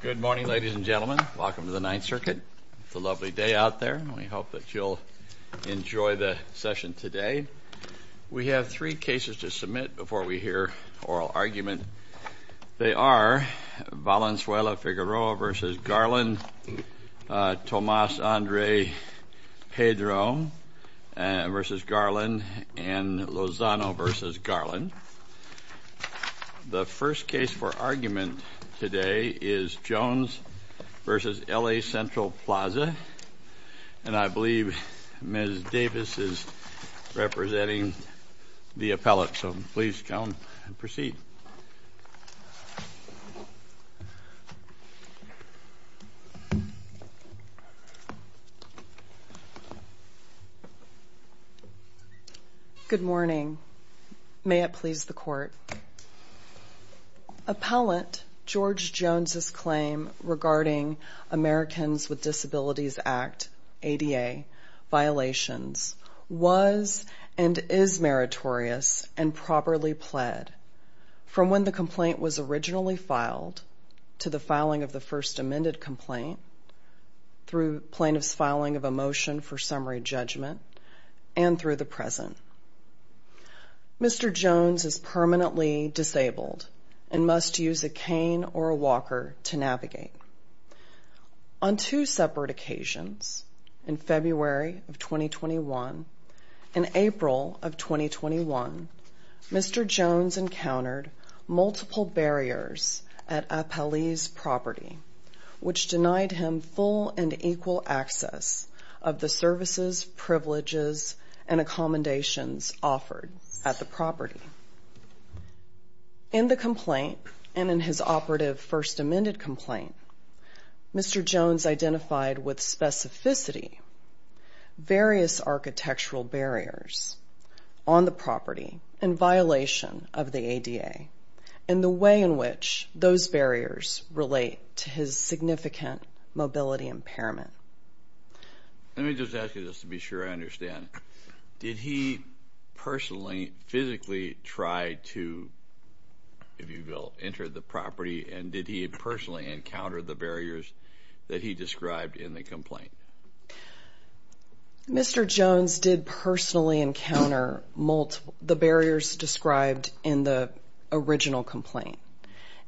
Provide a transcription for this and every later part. Good morning, ladies and gentlemen. Welcome to the Ninth Circuit. It's a lovely day out there and we hope that you'll enjoy the session today. We have three cases to submit before we hear oral argument. They are Valenzuela-Figueroa v. Garland, Tomas-Andre Pedro v. Garland, and Lozano v. Garland. The first case for argument today is Jones v. L.A. Central Plaza, and I believe Ms. Davis is representing the appellate, so please, Joan, proceed. Good morning. May it please the Court. Appellate George Jones' claim regarding Americans with Disabilities Act, ADA, violations was and is meritorious and properly pled from when the complaint was originally filed to the filing of the first amended complaint, through plaintiff's filing of a motion for summary judgment, and through the present. Mr. Jones is permanently disabled and must use a cane or a walker to navigate. On two separate occasions, in February of 2021 and April of 2021, Mr. Jones encountered multiple barriers at appellee's property, which denied him full and equal access of the services, privileges, and accommodations offered at the property. In the complaint, and in his operative first amended complaint, Mr. Jones identified with specificity various architectural barriers on the property in violation of the ADA, and the way in which those barriers relate to his significant mobility impairment. Let me just ask you this to be sure I understand. Did he personally, physically try to, if you will, enter the property, and did he personally encounter the barriers that he described in the complaint? Mr. Jones did personally encounter the barriers described in the original complaint.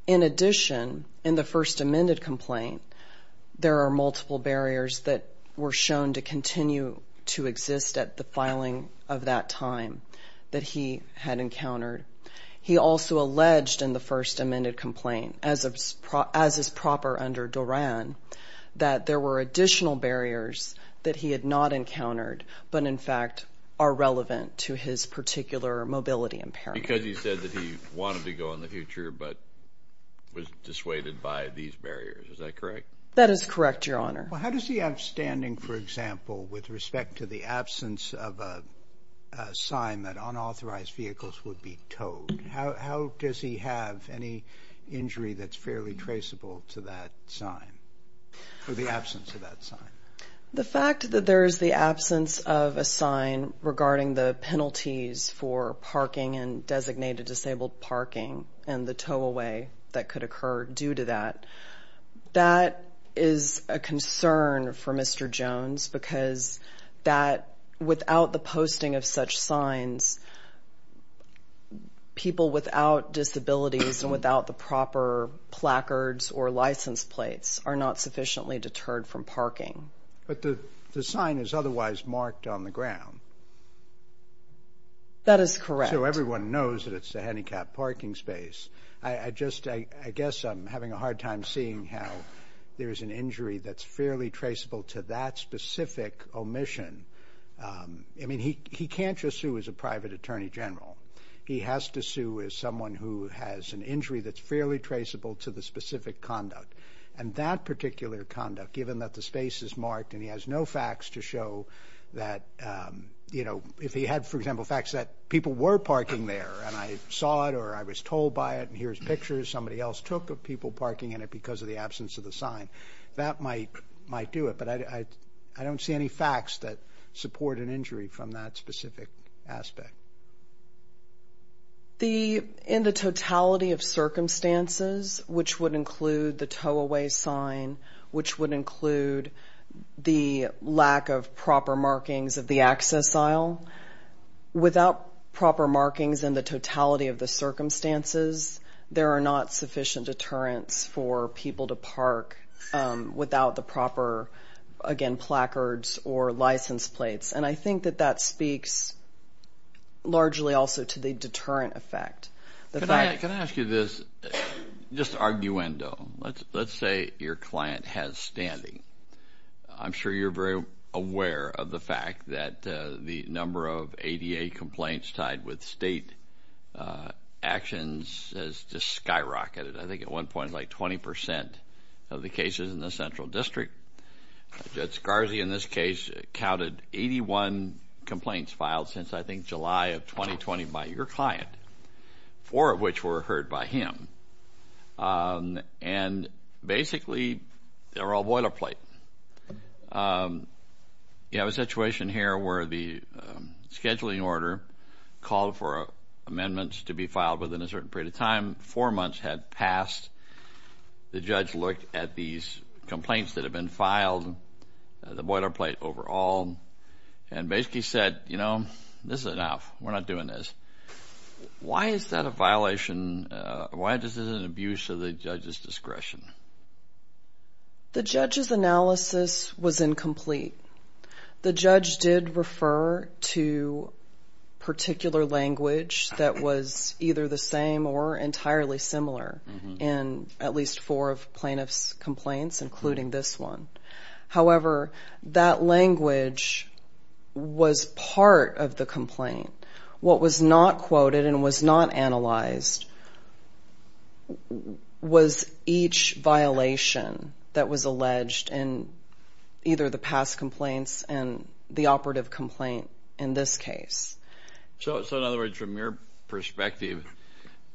In addition, in the first amended complaint, there are multiple barriers that were shown to continue to exist at the filing of that time that he had encountered. He also alleged in the first amended complaint, as is proper under DORAN, that there were additional barriers that he had not encountered, but in fact are relevant to his particular mobility impairment. Because he said that he wanted to go in the future, but was dissuaded by these barriers. Is that correct? That is correct, Your Honor. Well, how does he have standing, for example, with respect to the absence of a sign that unauthorized vehicles would be towed? How does he have any injury that's fairly traceable to that sign, or the absence of that sign? The fact that there's the absence of a sign regarding the penalties for parking and designated disabled parking and the tow away that could occur due to that, that is a concern for Mr. Jones because that, without the posting of such signs, people without disabilities and without the proper placards or license plates are not sufficiently deterred from parking. But the sign is otherwise marked on the ground. That is correct. So everyone knows that it's a handicapped parking space. I just, I guess I'm having a hard time seeing how there's an injury that's fairly traceable to that specific omission. I mean, he can't just sue as a private attorney general. He has to sue as someone who has an injury that's fairly traceable to the specific conduct. And that particular conduct, given that the space is marked and he has no facts to show that, you know, if he had, for example, facts that people were parking there and I saw it or I was told by it and here's pictures somebody else took of people parking in it because of the absence of the sign. That might do it, but I don't see any facts that support an injury from that specific aspect. In the totality of circumstances, which would include the tow away sign, which would include the lack of proper markings of the access aisle, without proper markings in the totality of the circumstances, there are not sufficient deterrents for people to park without the proper, again, placards or license plates. And I think that that speaks largely also to the deterrent effect. Can I ask you this? Just arguendo. Let's say your client has standing. I'm sure you're very aware of the fact that the number of ADA complaints tied with state actions has just skyrocketed. I think at one point, like 20 percent of the cases in the central district, that's Garvey. In this case, it counted 81 complaints filed since, I think, July of 2020 by your client, four of which were heard by him. And basically they're all boilerplate. You have a situation here where the scheduling order called for amendments to be filed within a certain period of time. Four months had passed. The judge looked at these complaints that had been filed, the boilerplate overall, and basically said, you know, this is enough. We're not doing this. Why is that a violation? Why is this an abuse of the judge's discretion? The judge's analysis was incomplete. The judge did refer to particular language that was either the same or entirely similar in at least four of plaintiff's complaints, including this one. However, that language was part of the complaint. What was not quoted and was not analyzed was each violation that was alleged in either the past complaints and the operative complaint in this case. So in other words, from your perspective,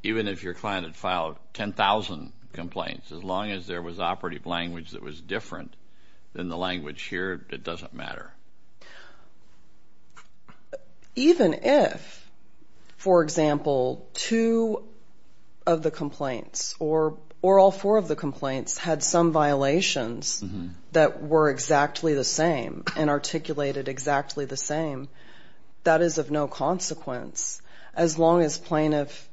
even if your client had filed 10,000 complaints, as long as there was operative language that was different than the language here, it doesn't matter? Even if, for example, two of the complaints or all four of the complaints had some violations that were exactly the same and articulated exactly the same, that is of no consequence as long as plaintiff,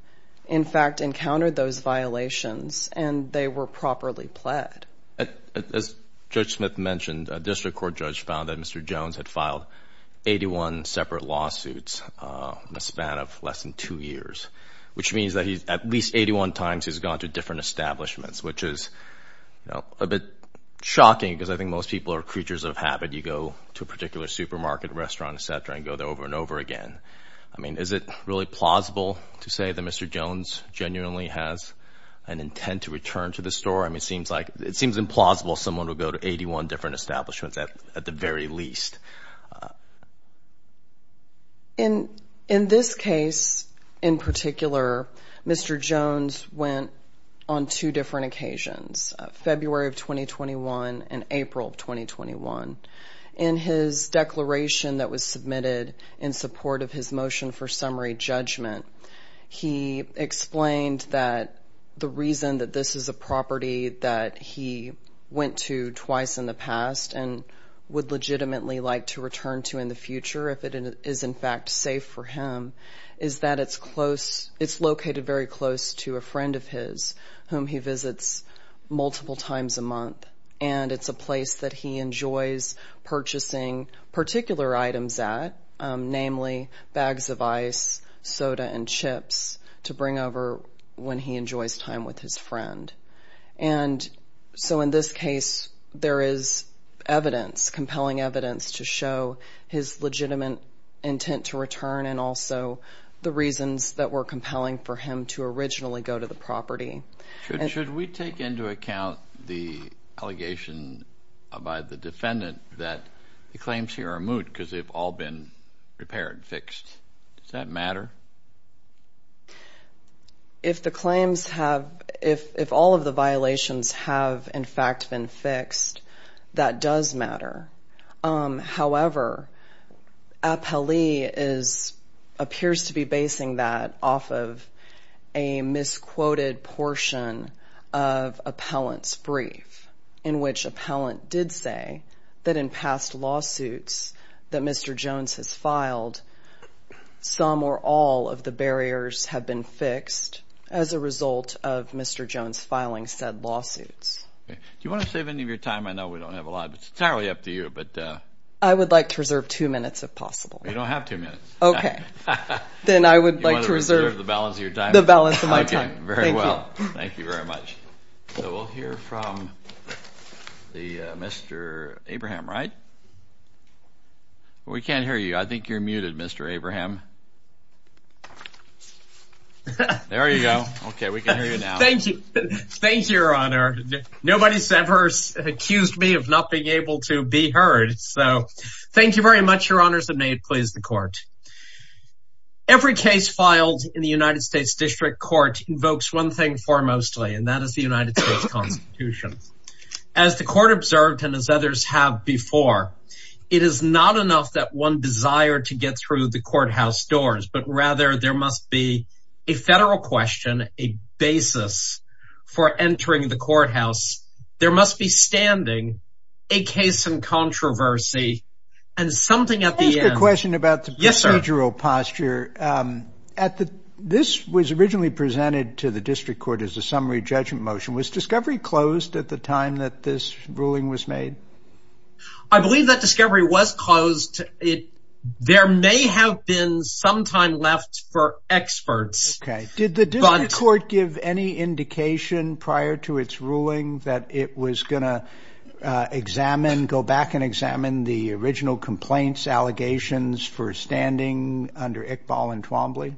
in fact, encountered those violations and they were properly pled. As Judge Smith mentioned, a district court judge found that Mr. Jones had filed 81 separate lawsuits in a span of less than two years, which means that at least 81 times he's gone to different establishments, which is a bit shocking because I think most people are creatures of habit. You go to a particular supermarket, restaurant, et cetera, and go there over and over again. I mean, is it really plausible to say that Mr. Jones genuinely has an intent to return to the store? I mean, it seems implausible someone would go to 81 different establishments at the very least. In this case in particular, Mr. Jones went on two different occasions, February of 2021 and April of 2021. In his declaration that was submitted in support of his motion for summary judgment, he explained that the reason that this is a property that he went to twice in the past and would legitimately like to return to in the future if it is in fact safe for him is that it's close, it's located very close to a friend of his whom he visits multiple times a month and it's a place that he enjoys purchasing particular items at, namely bags of ice, soda, and chips to bring over when he enjoys time with his friend. And so in this case, there is evidence, compelling evidence to show his legitimate intent to return and also the reasons that were compelling for him to originally go to the property. Should we take into account the allegation by the defendant that the claims here are moot because they've all been repaired, fixed? Does that matter? If the claims have, if all of the violations have in fact been fixed, that does matter. However, appellee is, appears to be basing that off of a misquoted portion of appellant's brief in which appellant did say that in past lawsuits that Mr. Jones has filed, some or all of the barriers have been fixed as a result of Mr. Jones filing said lawsuits. Do you want to save any of your time? I know we don't have a lot, but it's entirely up to you. I would like to reserve two minutes if possible. You don't have two minutes. Okay, then I would like to reserve the balance of my time. Okay, very well. Thank you very much. So we'll hear from the Mr. Abraham, right? We can't hear you. I think you're muted, Mr. Abraham. There you go. Okay, we can hear you now. Thank you. Thank you, Your Honor. Nobody's ever accused me of not being able to be heard. So thank you very much, Your Honors, and may it please the court. Every case filed in the United States District Court invokes one thing foremostly, and that is the United States Constitution. As the court observed and as others have before, it is not enough that one desire to get through the courthouse doors, but rather there must be a federal question, a basis for entering the courthouse. There must be standing a case in controversy and something at the end. I have a question about the procedural posture. This was originally presented to the District Court as a summary judgment motion. Was discovery closed at the time that this ruling was made? I believe that discovery was closed. There may have been some time left for experts. Did the District Court give any indication prior to its ruling that it was going to examine, go back and examine the original complaints, allegations for standing under Iqbal and Twombly?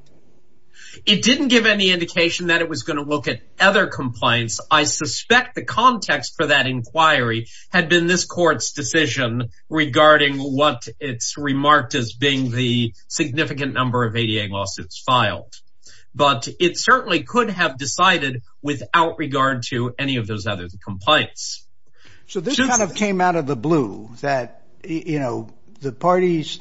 It didn't give any indication that it was going to look at other complaints. I suspect the context for that inquiry had been this court's decision regarding what it's remarked as being the significant number of ADA lawsuits filed. But it certainly could have decided without regard to any of those other complaints. So this kind of came out of the blue, that, you know, the parties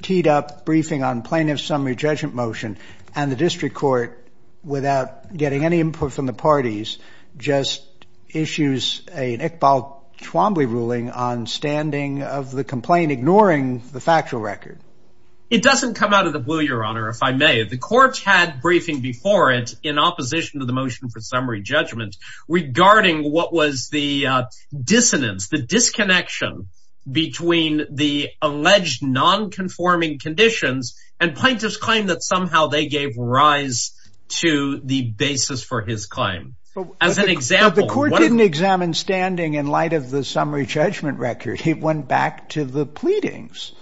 teed up briefing on plaintiff's summary judgment motion, and the District Court, without getting any input from the parties, just issues an Iqbal-Twombly ruling on standing of the complaint, ignoring the factual record. It doesn't come out of the blue, Your Honor, if I may. The court had briefing before it in opposition to the motion for summary judgment regarding what was the dissonance, the disconnection between the alleged non-conforming conditions and plaintiff's claim that somehow they gave rise to the basis for his claim. As an example... But the court didn't examine standing in light of the summary judgment record. It went back to the pleadings.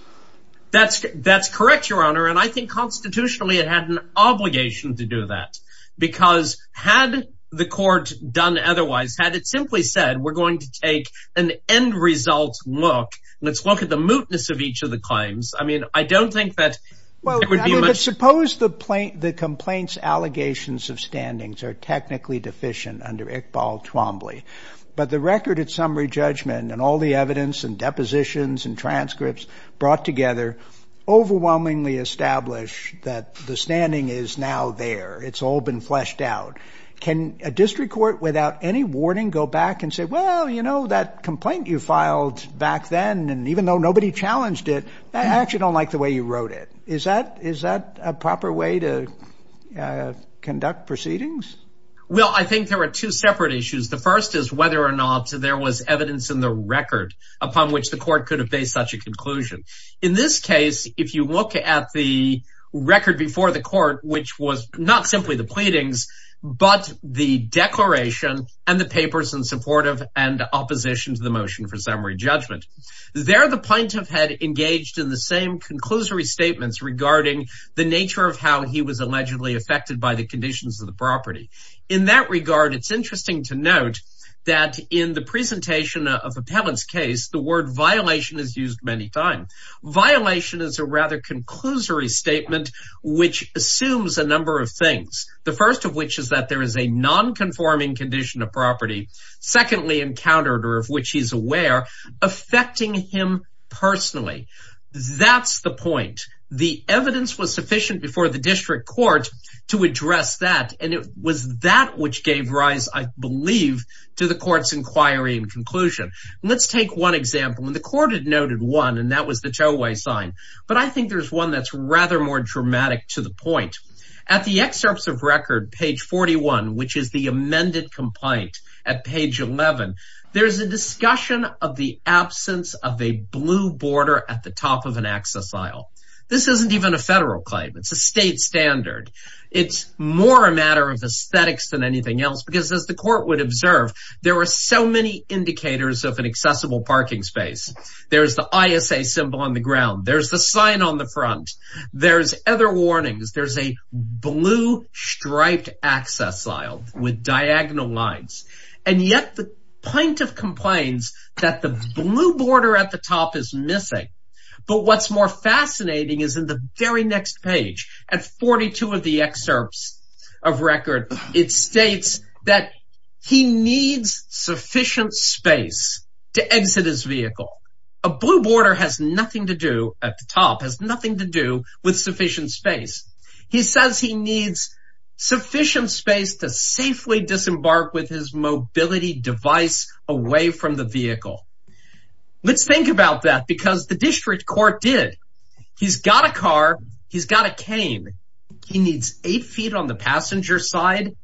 That's correct, Your Honor, and I think constitutionally it had an obligation to do that. Because had the court done otherwise, had it simply said, we're going to take an end result look, let's look at the mootness of each of the claims, I mean, I don't think that it would be much... But suppose the complaint's allegations of standings are technically deficient under Iqbal-Twombly, but the record of summary judgment and all the evidence and depositions and transcripts brought together overwhelmingly establish that the standing is now there. It's all been fleshed out. Can a District Court, without any warning, go back and say, well, you know, that complaint you filed back then, and even though nobody challenged it, I actually don't like the way you wrote it. Is that a proper way to conduct proceedings? Well, I think there are two separate issues. The first is whether or not there was evidence in the record upon which the court could have based such a conclusion. In this case, if you look at the record before the court, which was not simply the pleadings, but the declaration and the papers in support of and opposition to the motion for summary judgment, there the plaintiff had engaged in the same conclusory statements regarding the nature of how he was allegedly affected by the conditions of the property. In that regard, it's interesting to note that in the presentation of Appellant's case, the word violation is used many times. Violation is a rather conclusory statement which assumes a number of things, the first of which is that there is a non-conforming condition of property, secondly encountered, or of which he's aware, affecting him personally. That's the point. The evidence was sufficient before the district court to address that, and it was that which gave rise, I believe, to the court's inquiry and conclusion. Let's take one example, and the court had noted one, and that was the tow-way sign, but I think there's one that's rather more dramatic to the point. At the excerpts of record, page 41, which is the amended complaint at page 11, there's a discussion of the absence of a blue border at the top of an access aisle. This isn't even a federal claim. It's a state standard. It's more a matter of aesthetics than anything else because, as the court would observe, there are so many indicators of an accessible parking space. There's the ISA symbol on the ground. There's the sign on the front. There's other warnings. There's a blue-striped access aisle with diagonal lines, and yet the plaintiff complains that the blue border at the top is missing. But what's more fascinating is in the very next page, at 42 of the excerpts of record, it states that he needs sufficient space to exit his vehicle. A blue border has nothing to do, at the top, has nothing to do with sufficient space. He says he needs sufficient space to safely disembark with his mobility device away from the vehicle. Let's think about that because the district court did. He's got a car. He's got a cane. He needs eight feet on the passenger side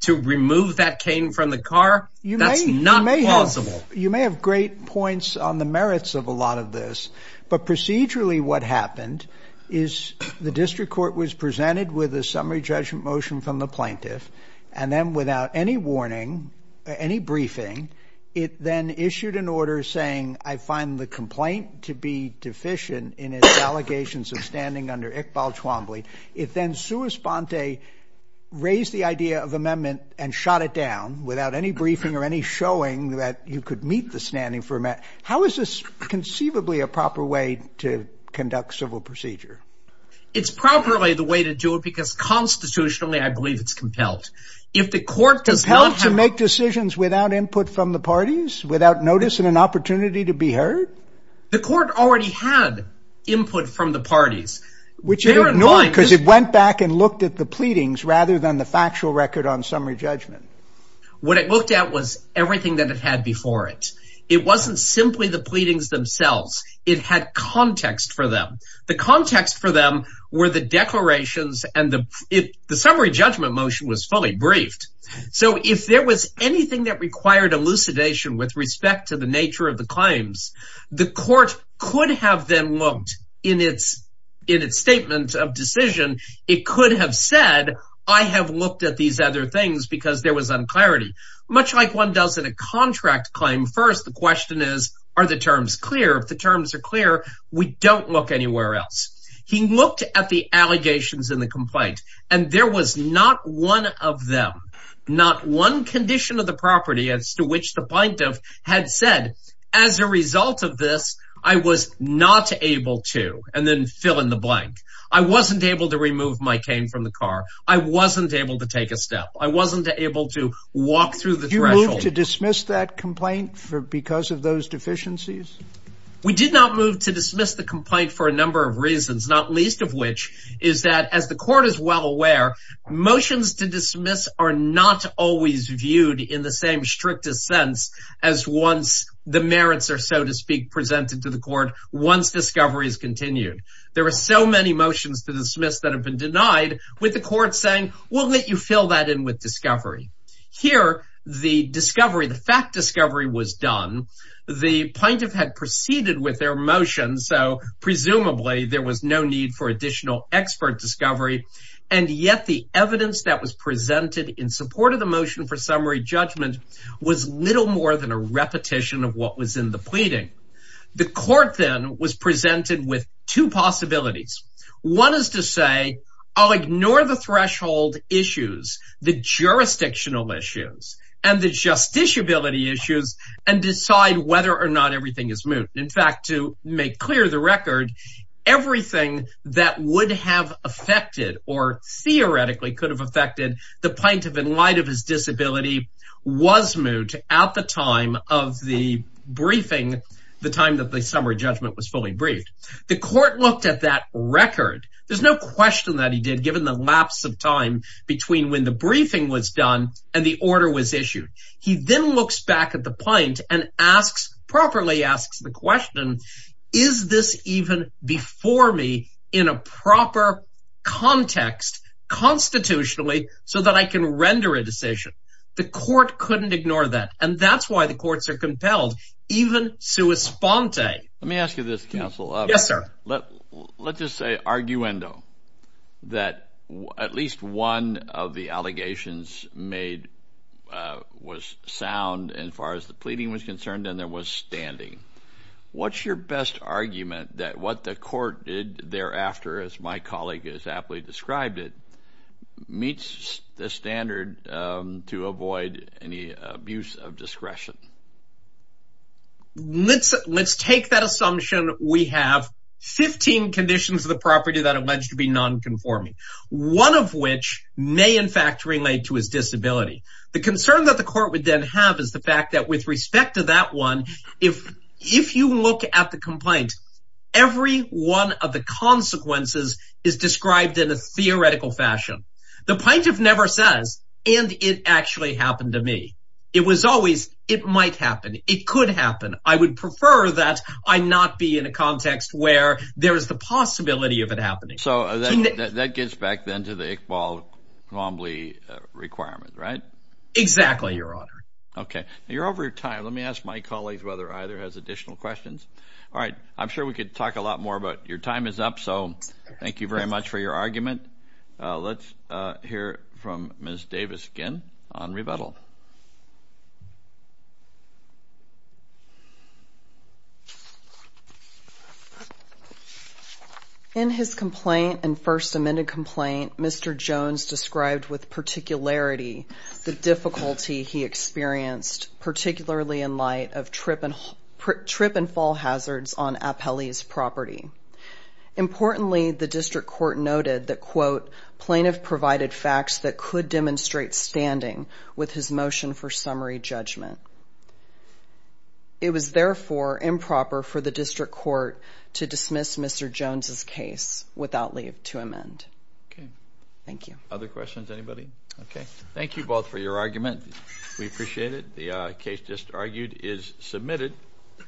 to remove that cane from the car? That's not plausible. You may have great points on the merits of a lot of this, but procedurally what happened is the district court was presented with a summary judgment motion from the plaintiff, and then without any warning, any briefing, it then issued an order saying, I find the complaint to be deficient in its allegations of standing under Iqbal Chwambli. It then sui sponte, raised the idea of amendment, and shot it down without any briefing or any showing that you could meet the standing for amendment. How is this conceivably a proper way to conduct civil procedure? It's probably the way to do it because constitutionally I believe it's compelled. If the court does not have to make decisions without input from the parties, without notice and an opportunity to be heard. The court already had input from the parties. Which it ignored because it went back and looked at the pleadings rather than the factual record on summary judgment. What it looked at was everything that it had before it. It wasn't simply the pleadings themselves. It had context for them. The context for them were the declarations and the summary judgment motion was fully briefed. So if there was anything that required elucidation with respect to the nature of the claims, the court could have then looked in its statement of decision. It could have said, I have looked at these other things because there was unclarity. Much like one does in a contract claim, first the question is, are the terms clear? If the terms are clear, we don't look anywhere else. He looked at the allegations in the complaint and there was not one of them, not one condition of the property as to which the plaintiff had said, as a result of this, I was not able to, and then fill in the blank. I wasn't able to remove my cane from the car. I wasn't able to take a step. I wasn't able to walk through the threshold. Did you move to dismiss that complaint because of those deficiencies? We did not move to dismiss the complaint for a number of reasons, not least of which is that, as the court is well aware, motions to dismiss are not always viewed in the same strictest sense as once the merits are, so to speak, presented to the court once discovery is continued. There are so many motions to dismiss that have been denied with the court saying, we'll let you fill that in with discovery. Here, the discovery, the fact discovery was done. The plaintiff had proceeded with their motion, so presumably there was no need for additional expert discovery, and yet the evidence that was presented in support of the motion for summary judgment was little more than a repetition of what was in the pleading. The court then was presented with two possibilities. One is to say, I'll ignore the threshold issues, the jurisdictional issues, and the justiciability issues, and decide whether or not everything is moot. In fact, to make clear the record, everything that would have affected or theoretically could have affected the plaintiff in light of his disability was moot at the time of the briefing, the time that the summary judgment was fully briefed. The court looked at that record. There's no question that he did given the lapse of time between when the briefing was done and the order was issued. He then looks back at the plaintiff and asks, properly asks the question, is this even before me in a proper context constitutionally so that I can render a decision? The court couldn't ignore that, and that's why the courts are compelled, even sua sponte. Let me ask you this, counsel. Yes, sir. Let's just say arguendo, that at least one of the allegations made was sound as far as the pleading was concerned, and there was standing. What's your best argument that what the court did thereafter, as my colleague has aptly described it, meets the standard to avoid any abuse of discretion? Let's take that assumption. We have 15 conditions of the property that are alleged to be nonconforming, one of which may in fact relate to his disability. The concern that the court would then have is the fact that with respect to that one, if you look at the complaint, every one of the consequences is described in a theoretical fashion. The plaintiff never says, and it actually happened to me. It was always, it might happen. It could happen. I would prefer that I not be in a context where there is the possibility of it happening. So that gets back then to the Iqbal-Ghamli requirement, right? Exactly, Your Honor. Okay. You're over your time. Let me ask my colleague whether either has additional questions. All right. I'm sure we could talk a lot more, but your time is up, so thank you very much for your argument. Let's hear from Ms. Davis again on rebuttal. Ms. Davis. In his complaint and first amended complaint, Mr. Jones described with particularity the difficulty he experienced, particularly in light of trip and fall hazards on Apele's property. Importantly, the district court noted that, quote, It was, therefore, improper for the district court to dismiss Mr. Jones's case without leave to amend. Okay. Thank you. Other questions, anybody? Okay. Thank you both for your argument. We appreciate it. The case just argued is submitted.